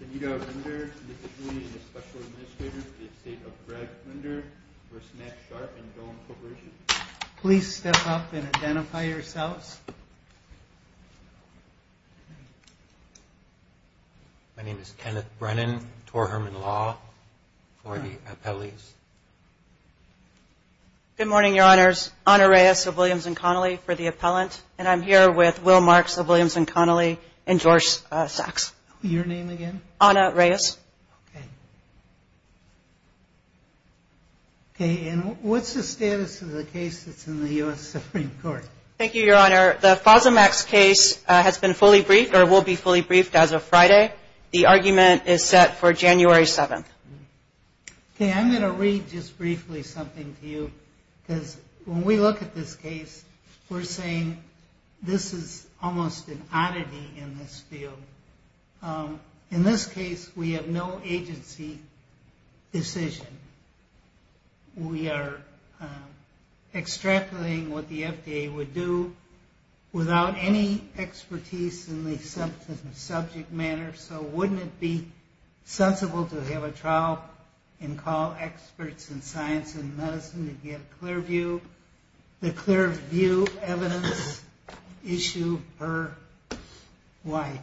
Can you go to Rinder v. Meck Sharp & Dohme Corporation? Please step up and identify yourselves. My name is Kenneth Brennan, Tor Hermann Law for the appellees. Good morning, Your Honors. Ana Reyes of Williams & Connolly for the appellant. And I'm here with Will Marks of Williams & Connolly and George Sachs. Your name again? Ana Reyes. Okay. Okay, and what's the status of the case that's in the U.S. Supreme Court? Thank you, Your Honor. The Fosamax case has been fully briefed or will be fully briefed as of Friday. The argument is set for January 7th. Okay, I'm going to read just briefly something to you because when we look at this case, we're saying this is almost an oddity in this field. In this case, we have no agency decision. We are extrapolating what the FDA would do without any expertise in the subject matter, so wouldn't it be sensible to have a trial and call experts in science and medicine to get a clear view? The clear view evidence issue per wife.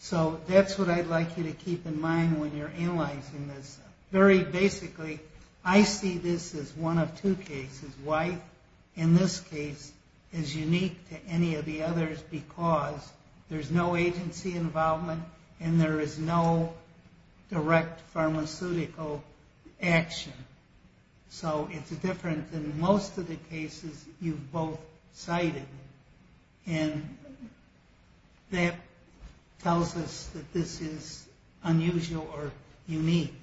So that's what I'd like you to keep in mind when you're analyzing this. Very basically, I see this as one of two cases. Wife in this case is unique to any of the others because there's no agency involvement and there is no direct pharmaceutical action. So it's different than most of the cases you've both cited. And that tells us that this is unusual or unique.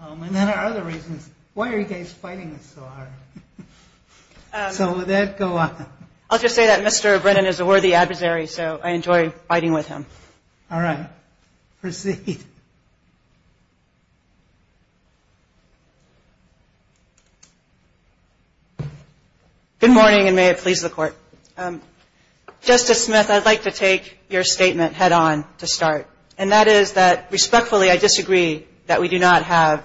And then there are other reasons. Why are you guys fighting this so hard? So with that, go on. I'll just say that Mr. Brennan is a worthy adversary, so I enjoy fighting with him. All right. Proceed. Good morning, and may it please the Court. Justice Smith, I'd like to take your statement head on to start, and that is that respectfully I disagree that we do not have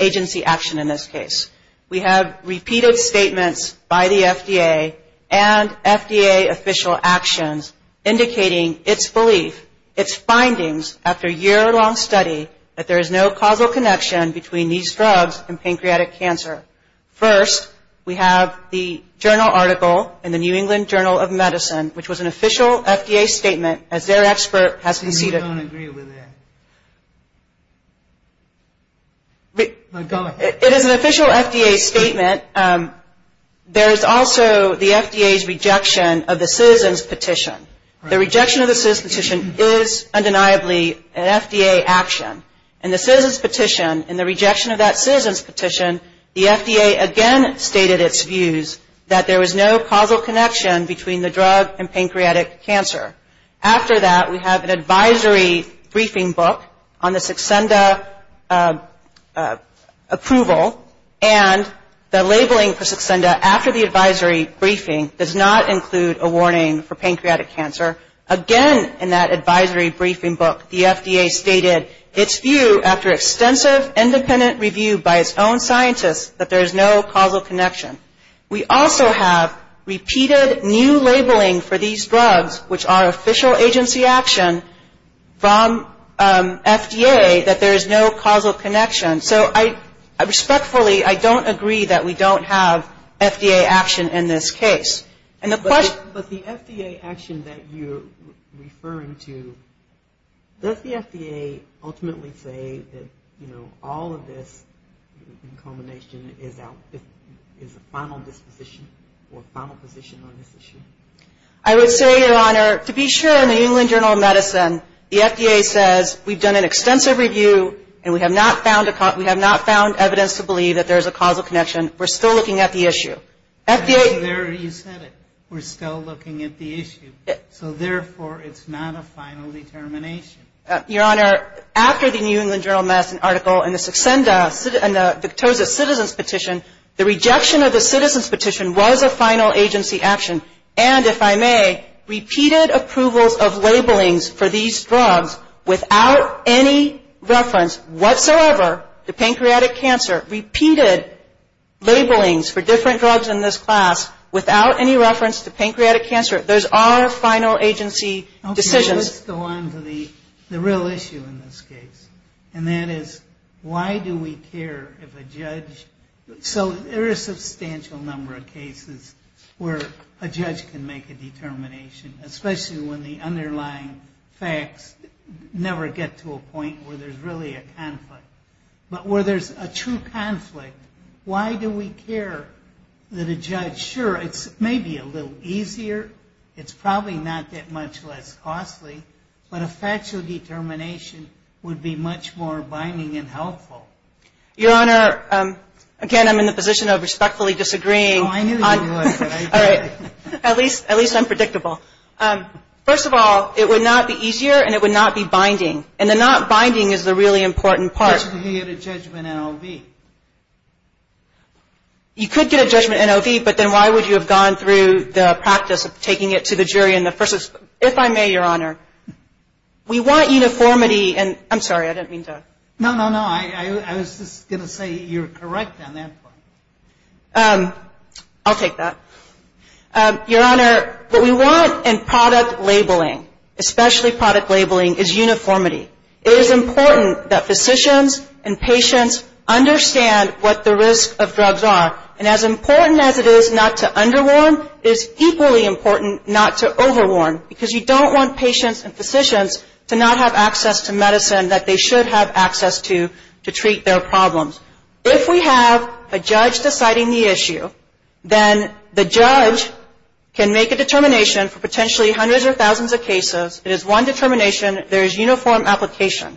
agency action in this case. We have repeated statements by the FDA and FDA official actions indicating its belief, its findings after a year-long study that there is no causal connection between these drugs and pancreatic cancer. First, we have the journal article in the New England Journal of Medicine, which was an official FDA statement as their expert has conceded. And you don't agree with that? Go ahead. It is an official FDA statement. There is also the FDA's rejection of the citizen's petition. The rejection of the citizen's petition is undeniably an FDA action. In the citizen's petition, in the rejection of that citizen's petition, the FDA again stated its views that there was no causal connection between the drug and pancreatic cancer. After that, we have an advisory briefing book on the succenda approval, and the labeling for succenda after the advisory briefing does not include a warning for pancreatic cancer. Again, in that advisory briefing book, the FDA stated its view after extensive independent review by its own scientists that there is no causal connection. We also have repeated new labeling for these drugs, which are official agency action, from FDA that there is no causal connection. So I respectfully, I don't agree that we don't have FDA action in this case. And the question But the FDA action that you're referring to, does the FDA ultimately say that, you know, all of this in combination is a final disposition or final position on this issue? I would say, Your Honor, to be sure, in the New England Journal of Medicine, the FDA says we've done an extensive review and we have not found evidence to believe that there is a causal connection. We're still looking at the issue. There you said it. We're still looking at the issue. So therefore, it's not a final determination. Your Honor, after the New England Journal of Medicine article and the Victoza Citizens Petition, the rejection of the Citizens Petition was a final agency action. And if I may, repeated approvals of labelings for these drugs without any reference whatsoever to pancreatic cancer, repeated labelings for different drugs in this class without any reference to pancreatic cancer, those are final agency decisions. Let's go on to the real issue in this case, and that is why do we care if a judge So there are a substantial number of cases where a judge can make a determination, especially when the underlying facts never get to a point where there's really a conflict. But where there's a true conflict, why do we care that a judge, sure, it's maybe a little easier, it's probably not that much less costly, but a factual determination would be much more binding and helpful? Your Honor, again, I'm in the position of respectfully disagreeing. Oh, I knew you would, but I didn't. At least I'm predictable. First of all, it would not be easier and it would not be binding. And the not binding is the really important part. You could get a judgment NOV. You could get a judgment NOV, but then why would you have gone through the practice of taking it to the jury in the first instance? If I may, Your Honor, we want uniformity and I'm sorry, I didn't mean to. No, no, no. I was just going to say you're correct on that point. I'll take that. Your Honor, what we want in product labeling, especially product labeling, is uniformity. It is important that physicians and patients understand what the risk of drugs are. And as important as it is not to underwarn, it is equally important not to overwarn, because you don't want patients and physicians to not have access to medicine that they should have access to to treat their problems. If we have a judge deciding the issue, then the judge can make a determination for potentially hundreds or thousands of cases. It is one determination. There is uniform application.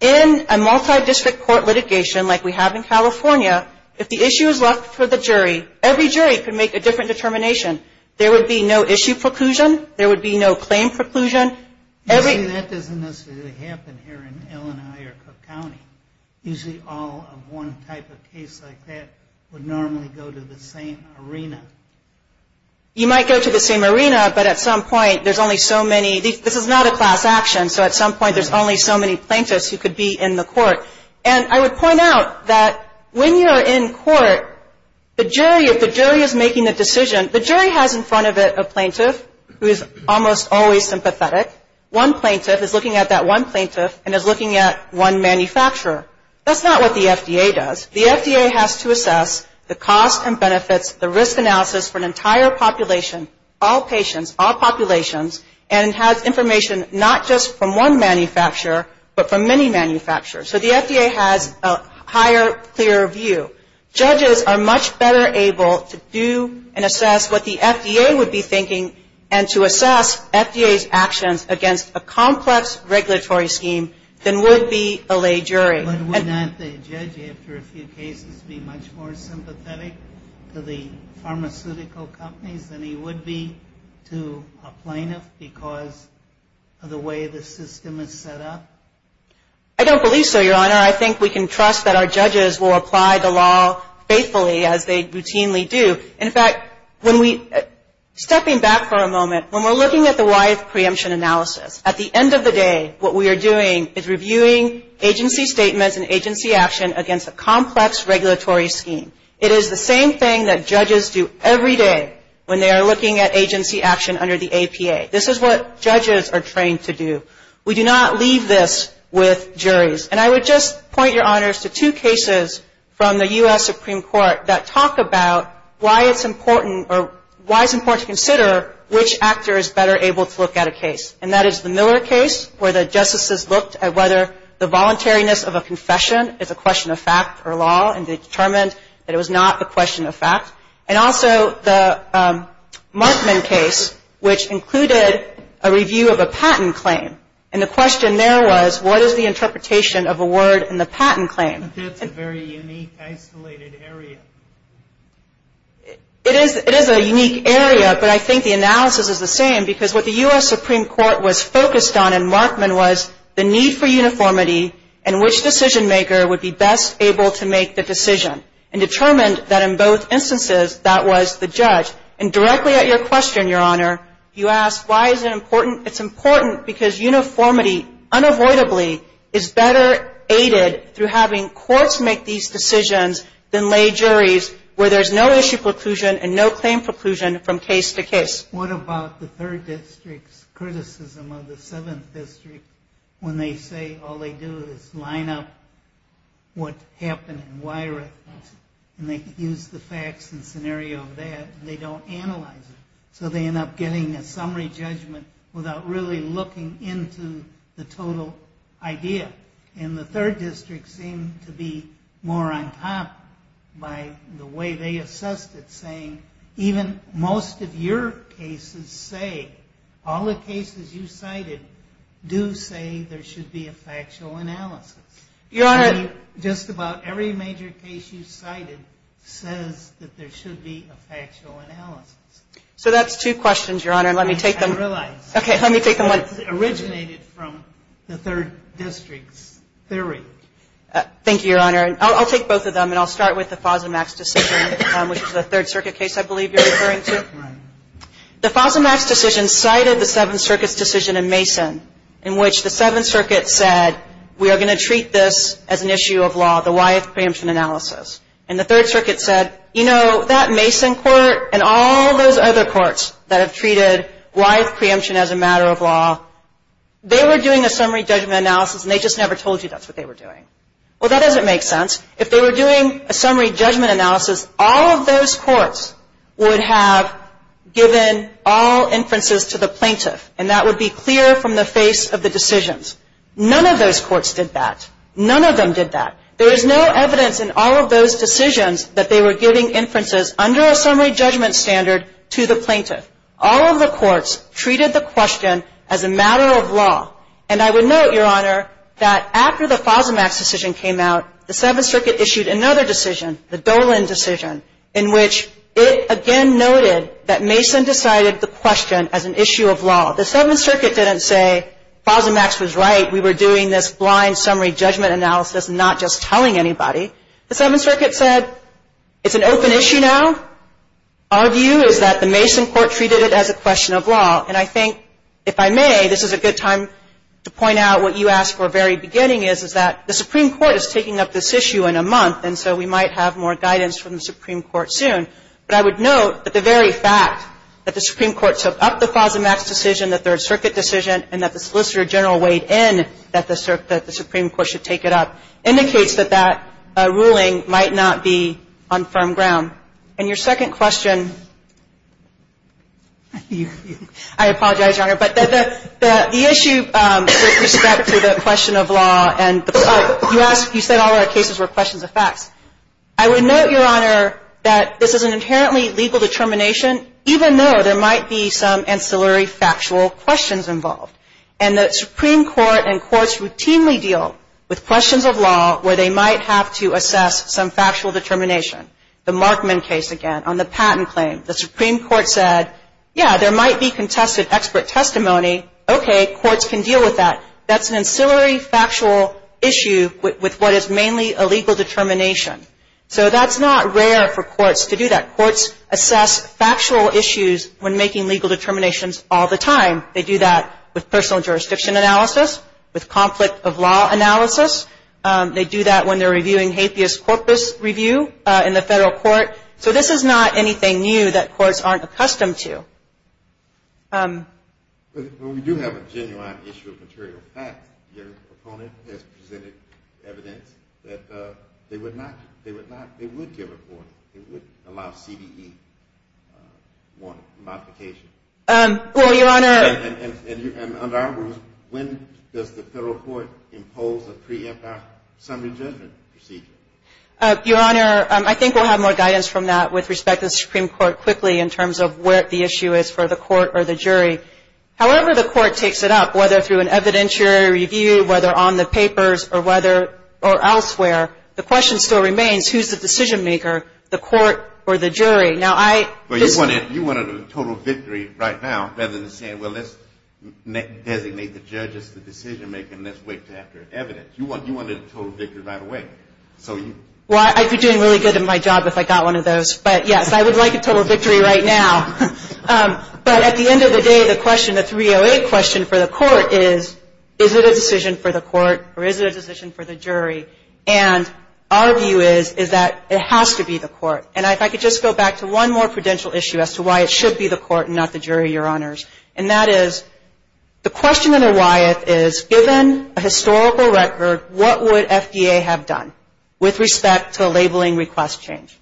In a multi-district court litigation like we have in California, if the issue is left for the jury, every jury can make a different determination. There would be no issue preclusion. There would be no claim preclusion. Usually that doesn't necessarily happen here in Illinois or Cook County. Usually all of one type of case like that would normally go to the same arena. You might go to the same arena, but at some point there's only so many, this is not a class action, so at some point there's only so many plaintiffs who could be in the court. And I would point out that when you're in court, the jury, if the jury is making the decision, the jury has in front of it a plaintiff who is almost always sympathetic. One plaintiff is looking at that one plaintiff and is looking at one manufacturer. That's not what the FDA does. The FDA has to assess the cost and benefits, the risk analysis for an entire population, all patients, all populations, and has information not just from one manufacturer, but from many manufacturers. So the FDA has a higher, clearer view. Judges are much better able to do and assess what the FDA would be thinking and to assess FDA's actions against a complex regulatory scheme than would be a lay jury. But would not the judge after a few cases be much more sympathetic to the pharmaceutical companies than he would be to a plaintiff because of the way the system is set up? I don't believe so, Your Honor. I think we can trust that our judges will apply the law faithfully as they routinely do. In fact, when we, stepping back for a moment, when we're looking at the YF preemption analysis, at the end of the day, what we are doing is reviewing agency statements and agency action against a complex regulatory scheme. It is the same thing that judges do every day when they are looking at agency action under the APA. This is what judges are trained to do. We do not leave this with juries. And I would just point, Your Honors, to two cases from the U.S. Supreme Court that talk about why it's important to consider which actor is better able to look at a case. And that is the Miller case where the justices looked at whether the voluntariness of a confession is a question of fact or law and determined that it was not a question of fact. And also the Markman case, which included a review of a patent claim. And the question there was what is the interpretation of a word in the patent claim? That's a very unique, isolated area. It is a unique area, but I think the analysis is the same, because what the U.S. Supreme Court was focused on in Markman was the need for uniformity and which decision maker would be best able to make the decision. And determined that in both instances, that was the judge. And directly at your question, Your Honor, you asked why is it important. It's important because uniformity unavoidably is better aided through having courts make these decisions than lay juries where there's no issue preclusion and no claim preclusion from case to case. What about the Third District's criticism of the Seventh District when they say all they do is line up what happened and wire it and they use the facts and scenario of that and they don't analyze it. So they end up getting a summary judgment without really looking into the total idea. And the Third District seemed to be more on top by the way they assessed it, saying even most of your cases say, all the cases you cited do say there should be a factual analysis. Your Honor. Just about every major case you cited says that there should be a factual analysis. So that's two questions, Your Honor. I didn't realize. Okay, let me take them one at a time. What originated from the Third District's theory? Thank you, Your Honor. I'll take both of them and I'll start with the Fosamax decision, which is a Third Circuit case I believe you're referring to. Right. The Fosamax decision cited the Seventh Circuit's decision in Mason in which the Seventh Circuit said, we are going to treat this as an issue of law, the why of preemption analysis. And the Third Circuit said, you know, that Mason court and all those other courts that have treated why of preemption as a matter of law, they were doing a summary judgment analysis and they just never told you that's what they were doing. Well, that doesn't make sense. If they were doing a summary judgment analysis, all of those courts would have given all inferences to the plaintiff, and that would be clear from the face of the decisions. None of those courts did that. None of them did that. There is no evidence in all of those decisions that they were giving inferences under a summary judgment standard to the plaintiff. All of the courts treated the question as a matter of law. And I would note, Your Honor, that after the Fosamax decision came out, the Seventh Circuit issued another decision, the Dolan decision, in which it again noted that Mason decided the question as an issue of law. The Seventh Circuit didn't say Fosamax was right, we were doing this blind summary judgment analysis and not just telling anybody. The Seventh Circuit said it's an open issue now. Our view is that the Mason court treated it as a question of law. And I think, if I may, this is a good time to point out what you asked for at the very beginning is, is that the Supreme Court is taking up this issue in a month, and so we might have more guidance from the Supreme Court soon. But I would note that the very fact that the Supreme Court took up the Fosamax decision, the Third Circuit decision, and that the Solicitor General weighed in that the Supreme Court should take it up, indicates that that ruling might not be on firm ground. And your second question, I apologize, Your Honor, but the issue with respect to the question of law, and you said all of our cases were questions of facts. I would note, Your Honor, that this is an inherently legal determination, even though there might be some ancillary factual questions involved. And the Supreme Court and courts routinely deal with questions of law where they might have to assess some factual determination. The Markman case, again, on the patent claim. The Supreme Court said, yeah, there might be contested expert testimony. Okay, courts can deal with that. That's an ancillary factual issue with what is mainly a legal determination. So that's not rare for courts to do that. Courts assess factual issues when making legal determinations all the time. They do that with personal jurisdiction analysis, with conflict of law analysis. They do that when they're reviewing hatheus corpus review in the federal court. So this is not anything new that courts aren't accustomed to. We do have a genuine issue of material facts. Your opponent has presented evidence that they would not, they would not, they would allow CBE modification. Well, Your Honor. And under our rules, when does the federal court impose a preemptive summary judgment procedure? Your Honor, I think we'll have more guidance from that with respect to the Supreme Court quickly in terms of where the issue is for the court or the jury. However, the court takes it up, whether through an evidentiary review, whether on the papers or elsewhere. The question still remains, who's the decision maker, the court or the jury? Well, you want a total victory right now rather than saying, well, let's designate the judge as the decision maker and let's wait until after evidence. You want a total victory right away. Well, I'd be doing really good in my job if I got one of those. But, yes, I would like a total victory right now. But at the end of the day, the question, the 308 question for the court is, is it a decision for the court or is it a decision for the jury? And our view is, is that it has to be the court. And if I could just go back to one more prudential issue as to why it should be the court and not the jury, Your Honors. And that is the question under Wyeth is, given a historical record, what would FDA have done with respect to labeling request change?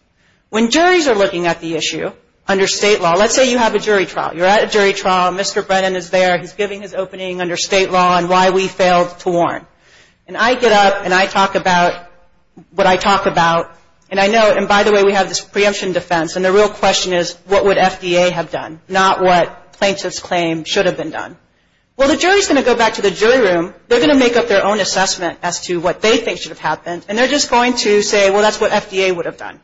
When juries are looking at the issue under state law, let's say you have a jury trial. You're at a jury trial. Mr. Brennan is there. He's giving his opening under state law and why we failed to warn. And I get up and I talk about what I talk about. And I know, and by the way, we have this preemption defense. And the real question is, what would FDA have done? Not what plaintiffs claim should have been done. Well, the jury is going to go back to the jury room. They're going to make up their own assessment as to what they think should have happened. And they're just going to say, well, that's what FDA would have done.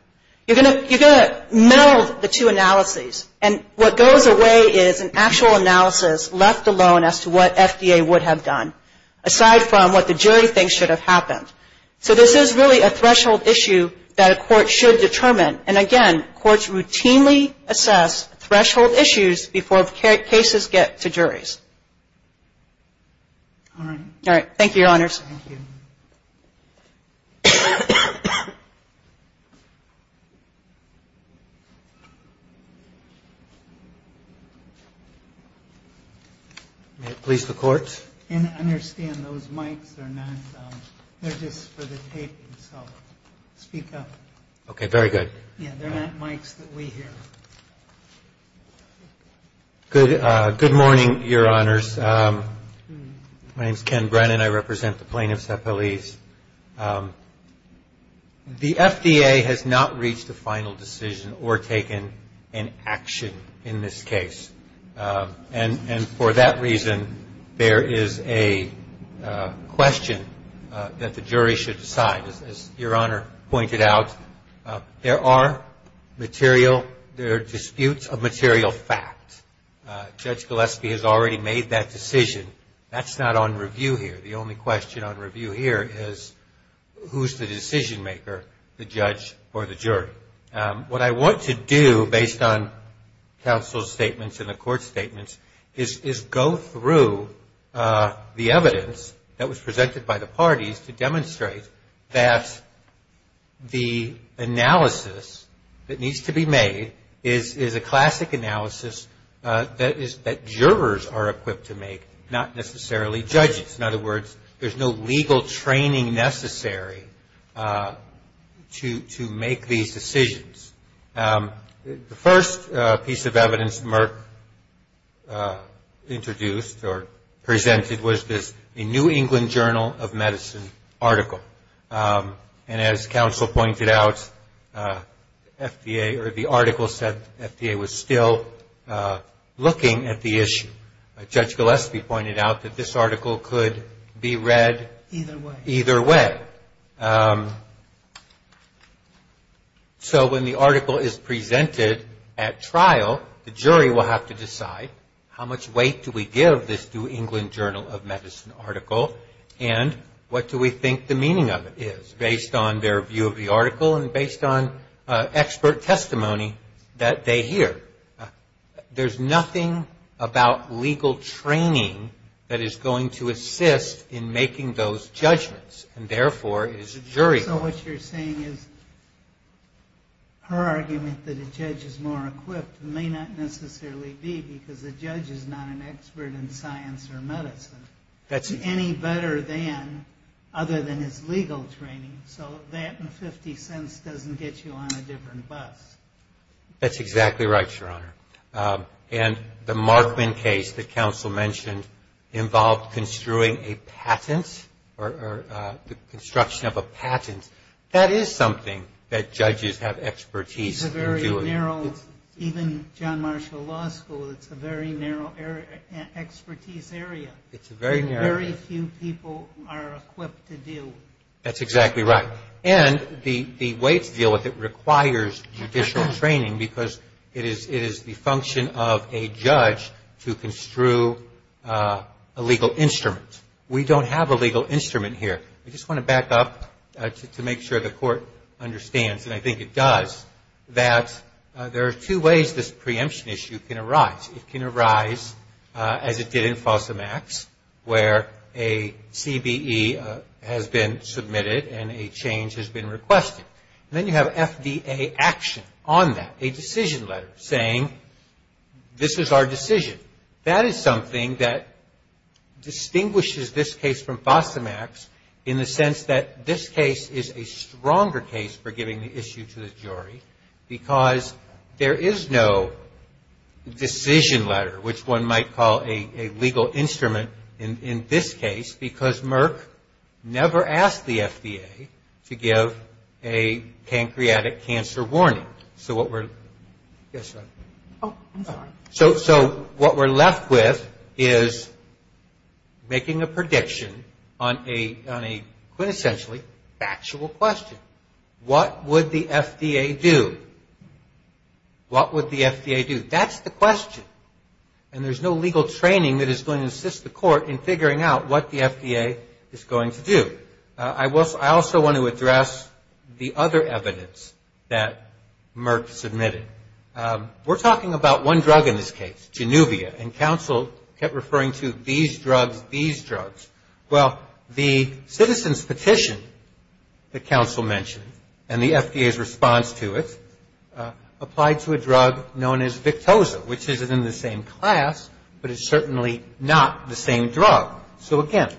You're going to meld the two analyses. And what goes away is an actual analysis left alone as to what FDA would have done, aside from what the jury thinks should have happened. So this is really a threshold issue that a court should determine. And, again, courts routinely assess threshold issues before cases get to juries. All right. Thank you, Your Honors. Thank you. May it please the Court. And understand those mics are not, they're just for the taping, so speak up. Okay. Very good. Yeah, they're not mics that we hear. Good morning, Your Honors. My name is Ken Brennan. I represent the plaintiffs at police. The FDA has not reached a final decision or taken an action in this case. And for that reason, there is a question that the jury should decide. As Your Honor pointed out, there are disputes of material fact. Judge Gillespie has already made that decision. That's not on review here. The only question on review here is who's the decision maker, the judge or the jury. What I want to do, based on counsel's statements and the court's statements, is go through the evidence that was presented by the parties to demonstrate that the analysis that needs to be made is a classic analysis that jurors are equipped to make, not necessarily judges. In other words, there's no legal training necessary to make these decisions. The first piece of evidence Merck introduced or presented was this New England Journal of Medicine article. And as counsel pointed out, FDA or the article said FDA was still looking at the issue. Judge Gillespie pointed out that this article could be read either way. So when the article is presented at trial, the jury will have to decide how much weight do we give this New England Journal of Medicine article and what do we think the meaning of it is based on their view of the article and based on expert testimony that they hear. There's nothing about legal training that is going to assist in making those judgments and therefore is jury. So what you're saying is her argument that a judge is more equipped may not necessarily be because the judge is not an expert in science or medicine. Any better than other than his legal training. So that in 50 cents doesn't get you on a different bus. That's exactly right, Your Honor. And the Markman case that counsel mentioned involved construing a patent or the construction of a patent. That is something that judges have expertise in doing. It's a very narrow, even John Marshall Law School, it's a very narrow expertise area. It's a very narrow area. Very few people are equipped to do. That's exactly right. And the way to deal with it requires judicial training because it is the function of a judge to construe a legal instrument. We don't have a legal instrument here. I just want to back up to make sure the court understands, and I think it does, that there are two ways this preemption issue can arise. It can arise as it did in FOSAMAX where a CBE has been submitted and a change has been requested. And then you have FDA action on that, a decision letter saying this is our decision. That is something that distinguishes this case from FOSAMAX in the sense that this case is a stronger case for giving the issue to the jury because there is no decision letter, which one might call a legal instrument in this case because Merck never asked the FDA to give a pancreatic cancer warning. So what we're left with is making a prediction on a quintessentially factual question. What would the FDA do? What would the FDA do? That's the question. And there's no legal training that is going to assist the court in figuring out what the FDA is going to do. I also want to address the other evidence that Merck submitted. We're talking about one drug in this case, Genuvia, and counsel kept referring to these drugs, these drugs. Well, the citizen's petition that counsel mentioned and the FDA's response to it applied to a drug known as Victoza, which is in the same class, but it's certainly not the same drug. So, again,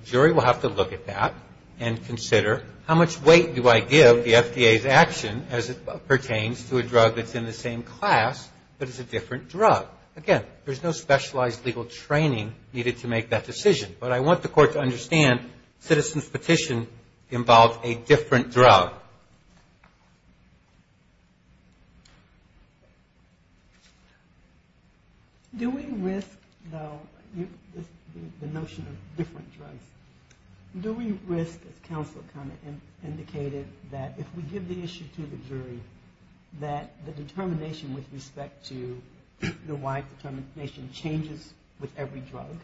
the jury will have to look at that and consider how much weight do I give the FDA's action as it pertains to a drug that's in the same class, but it's a different drug. Again, there's no specialized legal training needed to make that decision. But I want the court to understand citizen's petition involves a different drug. So, do we risk, though, the notion of different drugs, do we risk, as counsel kind of indicated, that if we give the issue to the jury that the determination with respect to the wide determination changes with every drug?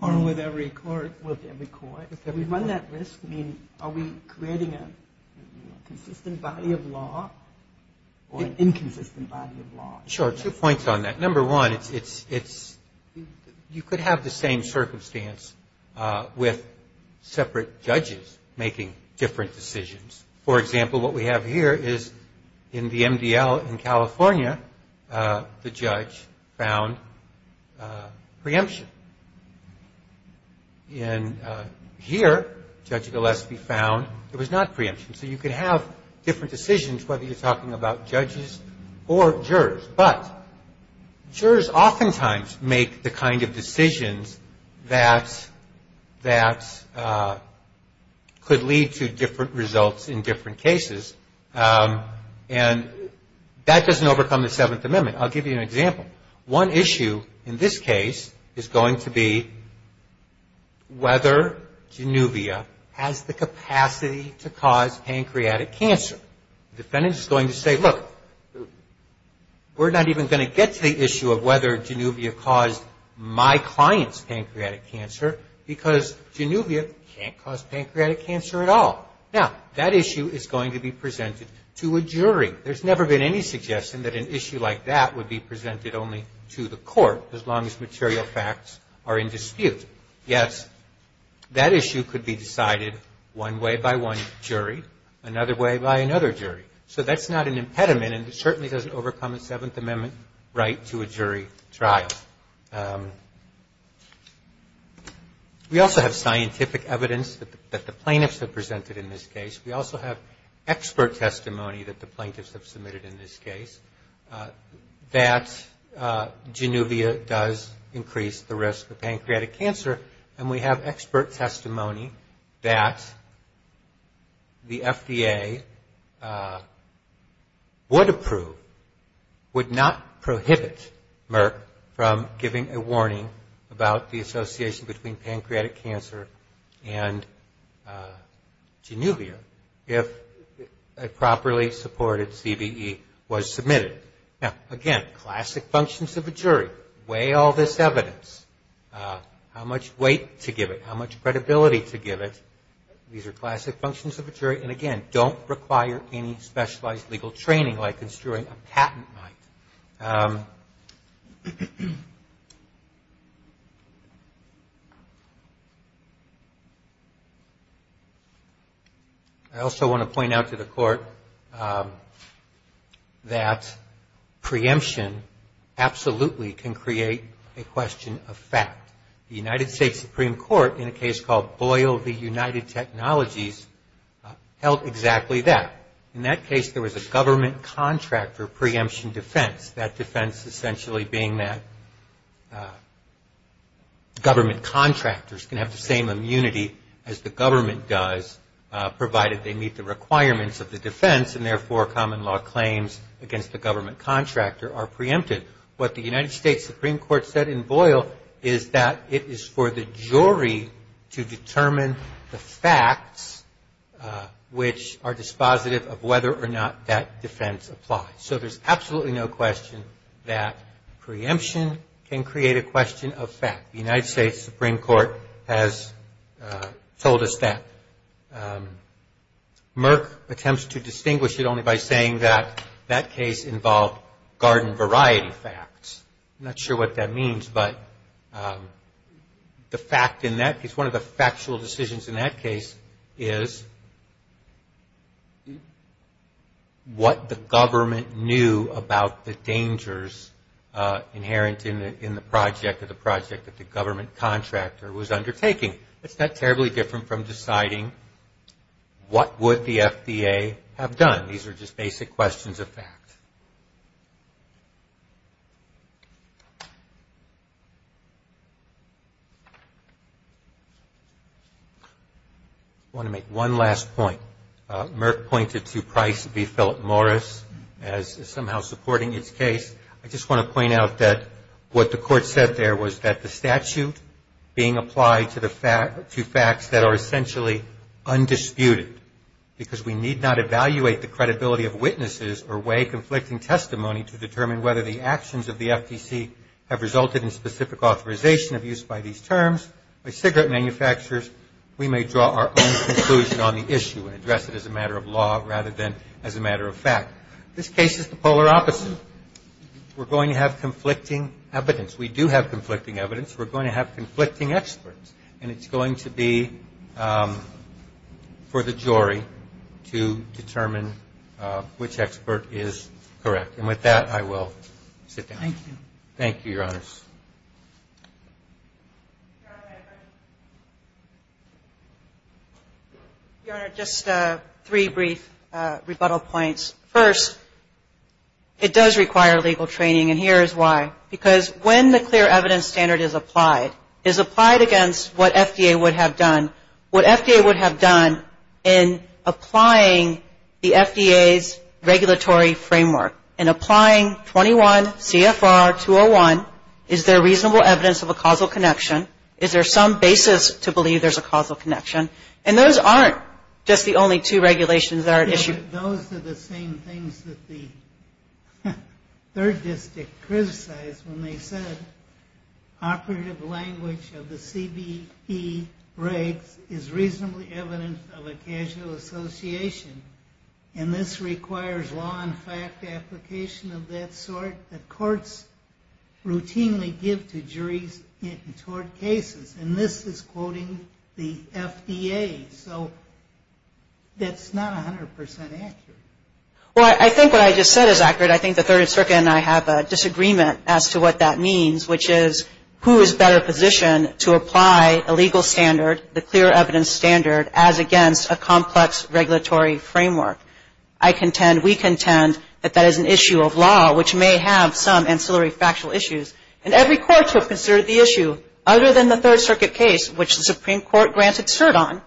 Or with every court. With every court. If we run that risk, I mean, are we creating a consistent body of law or an inconsistent body of law? Sure, two points on that. Number one, you could have the same circumstance with separate judges making different decisions. For example, what we have here is in the MDL in California, the judge found preemption. And here, Judge Gillespie found it was not preemption. So, you could have different decisions whether you're talking about judges or jurors. But jurors oftentimes make the kind of decisions that could lead to different results in different cases. And that doesn't overcome the Seventh Amendment. I'll give you an example. One issue in this case is going to be whether Genuvia has the capacity to cause pancreatic cancer. The defendant is going to say, look, we're not even going to get to the issue of whether Genuvia caused my client's pancreatic cancer, because Genuvia can't cause pancreatic cancer at all. Now, that issue is going to be presented to a jury. There's never been any suggestion that an issue like that would be presented only to the court, as long as material facts are in dispute. Yet, that issue could be decided one way by one jury, another way by another jury. So, that's not an impediment, and it certainly doesn't overcome a Seventh Amendment right to a jury trial. We also have scientific evidence that the plaintiffs have presented in this case. We also have expert testimony that the plaintiffs have submitted in this case, that Genuvia does increase the risk of pancreatic cancer, and we have expert testimony that the FDA would approve, would not prohibit Merck from giving a warning about the association between pancreatic cancer and Genuvia, if a properly supported CVE was submitted. Now, again, classic functions of a jury, weigh all this evidence, how much weight to give it, how much credibility to give it. These are classic functions of a jury, and again, don't require any specialized legal training, like construing a patent might. I also want to point out to the court that preemption absolutely can create a question of fact. The United States Supreme Court, in a case called Boyle v. United Technologies, held exactly that. In that case, there was a government contractor preemption defense, that defense essentially being that government contractors can have the same immunity as the government does, provided they meet the requirements of the defense, and therefore common law claims against the government contractor are preempted. What the United States Supreme Court said in Boyle is that it is for the jury to determine the facts, which are dispositive of whether or not that defense applies. So there's absolutely no question that preemption can create a question of fact. The United States Supreme Court has told us that. Merck attempts to distinguish it only by saying that that case involved garden variety facts. I'm not sure what that means, but the fact in that case, one of the factual decisions in that case is what the government knew about the dangers inherent in the project, or the project that the government contractor was undertaking. It's not terribly different from deciding what would the FDA have done. These are just basic questions of fact. I want to make one last point. Merck pointed to Price v. Philip Morris as somehow supporting its case. I just want to point out that what the court said there was that the statute being applied to facts that are essentially undisputed, because we need not evaluate the credibility of witnesses or way conflicting testimony to determine whether the actions of the FDC have resulted in specific authorization of use by these terms, by cigarette manufacturers, we may draw our own conclusion on the issue and address it as a matter of law rather than as a matter of fact. This case is the polar opposite. We're going to have conflicting evidence. We do have conflicting evidence. We're going to have conflicting experts, and it's going to be for the jury to determine which expert is correct. And with that, I will sit down. Thank you, Your Honors. Your Honor, just three brief rebuttal points. First, it does require legal training, and here is why. Because when the clear evidence standard is applied, is applied against what FDA would have done. What FDA would have done in applying the FDA's regulatory framework, in applying 21 CFR 201, it would have done is there reasonable evidence of a causal connection, is there some basis to believe there's a causal connection. And those aren't just the only two regulations that are at issue. Those are the same things that the third district criticized when they said operative language of the CBE regs is reasonably evident of a casual association. And this requires law and fact application of that sort that courts routinely give to juries in tort cases. And this is quoting the FDA. So that's not 100% accurate. Well, I think what I just said is accurate. I think the Third Circuit and I have a disagreement as to what that means, which is who is better positioned to apply a legal standard, the clear evidence standard, as against a complex regulatory framework. I contend, we contend, that that is an issue of law, which may have some ancillary factual issues. And every court to have considered the issue, other than the Third Circuit case, which the Supreme Court granted cert on,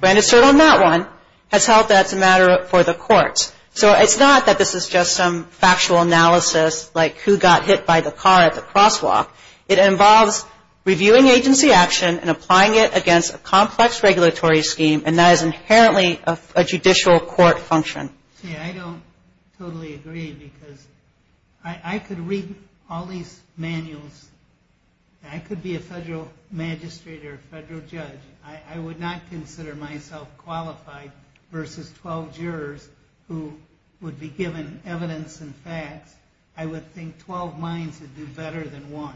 granted cert on that it's a matter for the courts. So it's not that this is just some factual analysis, like who got hit by the car at the crosswalk. It involves reviewing agency action and applying it against a complex regulatory scheme, and that is inherently a judicial court function. See, I don't totally agree, because I could read all these manuals. I could be a federal magistrate or a federal judge. I would not consider myself qualified versus 12 jurors who would be given evidence and facts. I would think 12 minds would do better than one.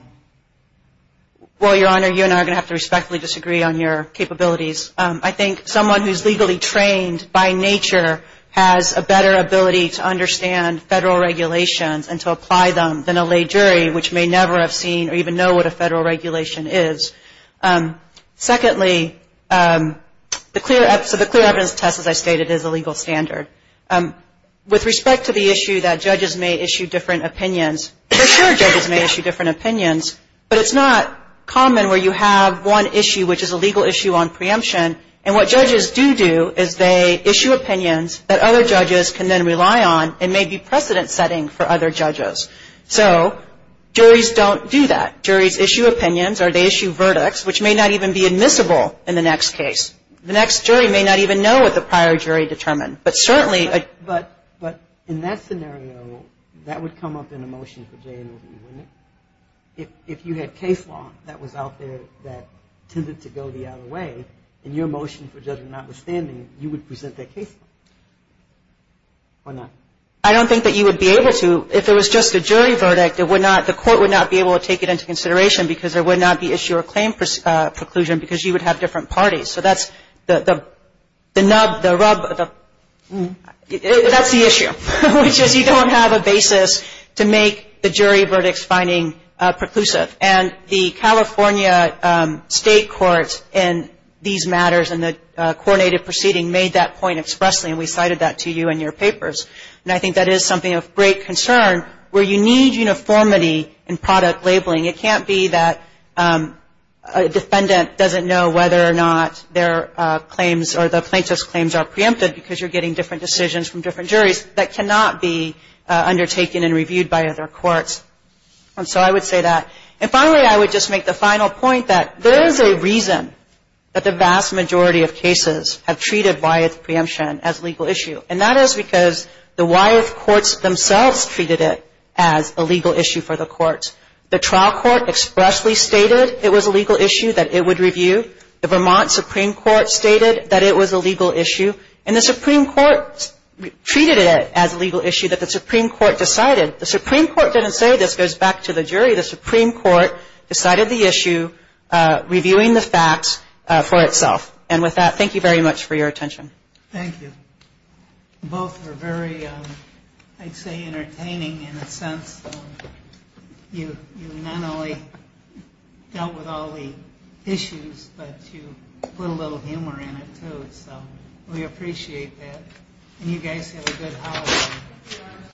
Well, Your Honor, you and I are going to have to respectfully disagree on your capabilities. I think someone who is legally trained by nature has a better ability to understand federal regulations and to apply them than a lay jury, which may never have seen or even know what a federal regulation is. Secondly, the clear evidence test, as I stated, is a legal standard. With respect to the issue that judges may issue different opinions, for sure judges may issue different opinions, but it's not common where you have one issue, which is a legal issue on preemption, and what judges do do is they issue opinions that other judges can then rely on and may be precedent setting for other judges. So juries don't do that. Juries issue opinions or they issue verdicts, which may not even be admissible in the next case. The next jury may not even know what the prior jury determined. But certainly ---- But in that scenario, that would come up in a motion for J&OV, wouldn't it? If you had case law that was out there that tended to go the other way, in your motion for judgment notwithstanding, you would present that case law, or not? I don't think that you would be able to. If it was just a jury verdict, the court would not be able to take it into consideration because there would not be issue or claim preclusion because you would have different parties. So that's the nub, the rub, that's the issue, which is you don't have a basis to make the jury verdicts finding preclusive. And the California state courts in these matters and the coordinated proceeding made that point expressly, and we cited that to you in your papers. And I think that is something of great concern, where you need uniformity in product labeling. It can't be that a defendant doesn't know whether or not their claims or the plaintiff's claims are preempted because you're getting different decisions from different juries. That cannot be undertaken and reviewed by other courts. And so I would say that. And finally, I would just make the final point that there is a reason that the vast majority of cases have treated why it's preemption as legal issue. And that is because the Wyeth courts themselves treated it as a legal issue for the courts. The trial court expressly stated it was a legal issue that it would review. The Vermont Supreme Court stated that it was a legal issue. And the Supreme Court treated it as a legal issue that the Supreme Court decided. The Supreme Court didn't say this, goes back to the jury. The Supreme Court decided the issue, reviewing the facts for itself. And with that, thank you very much for your attention.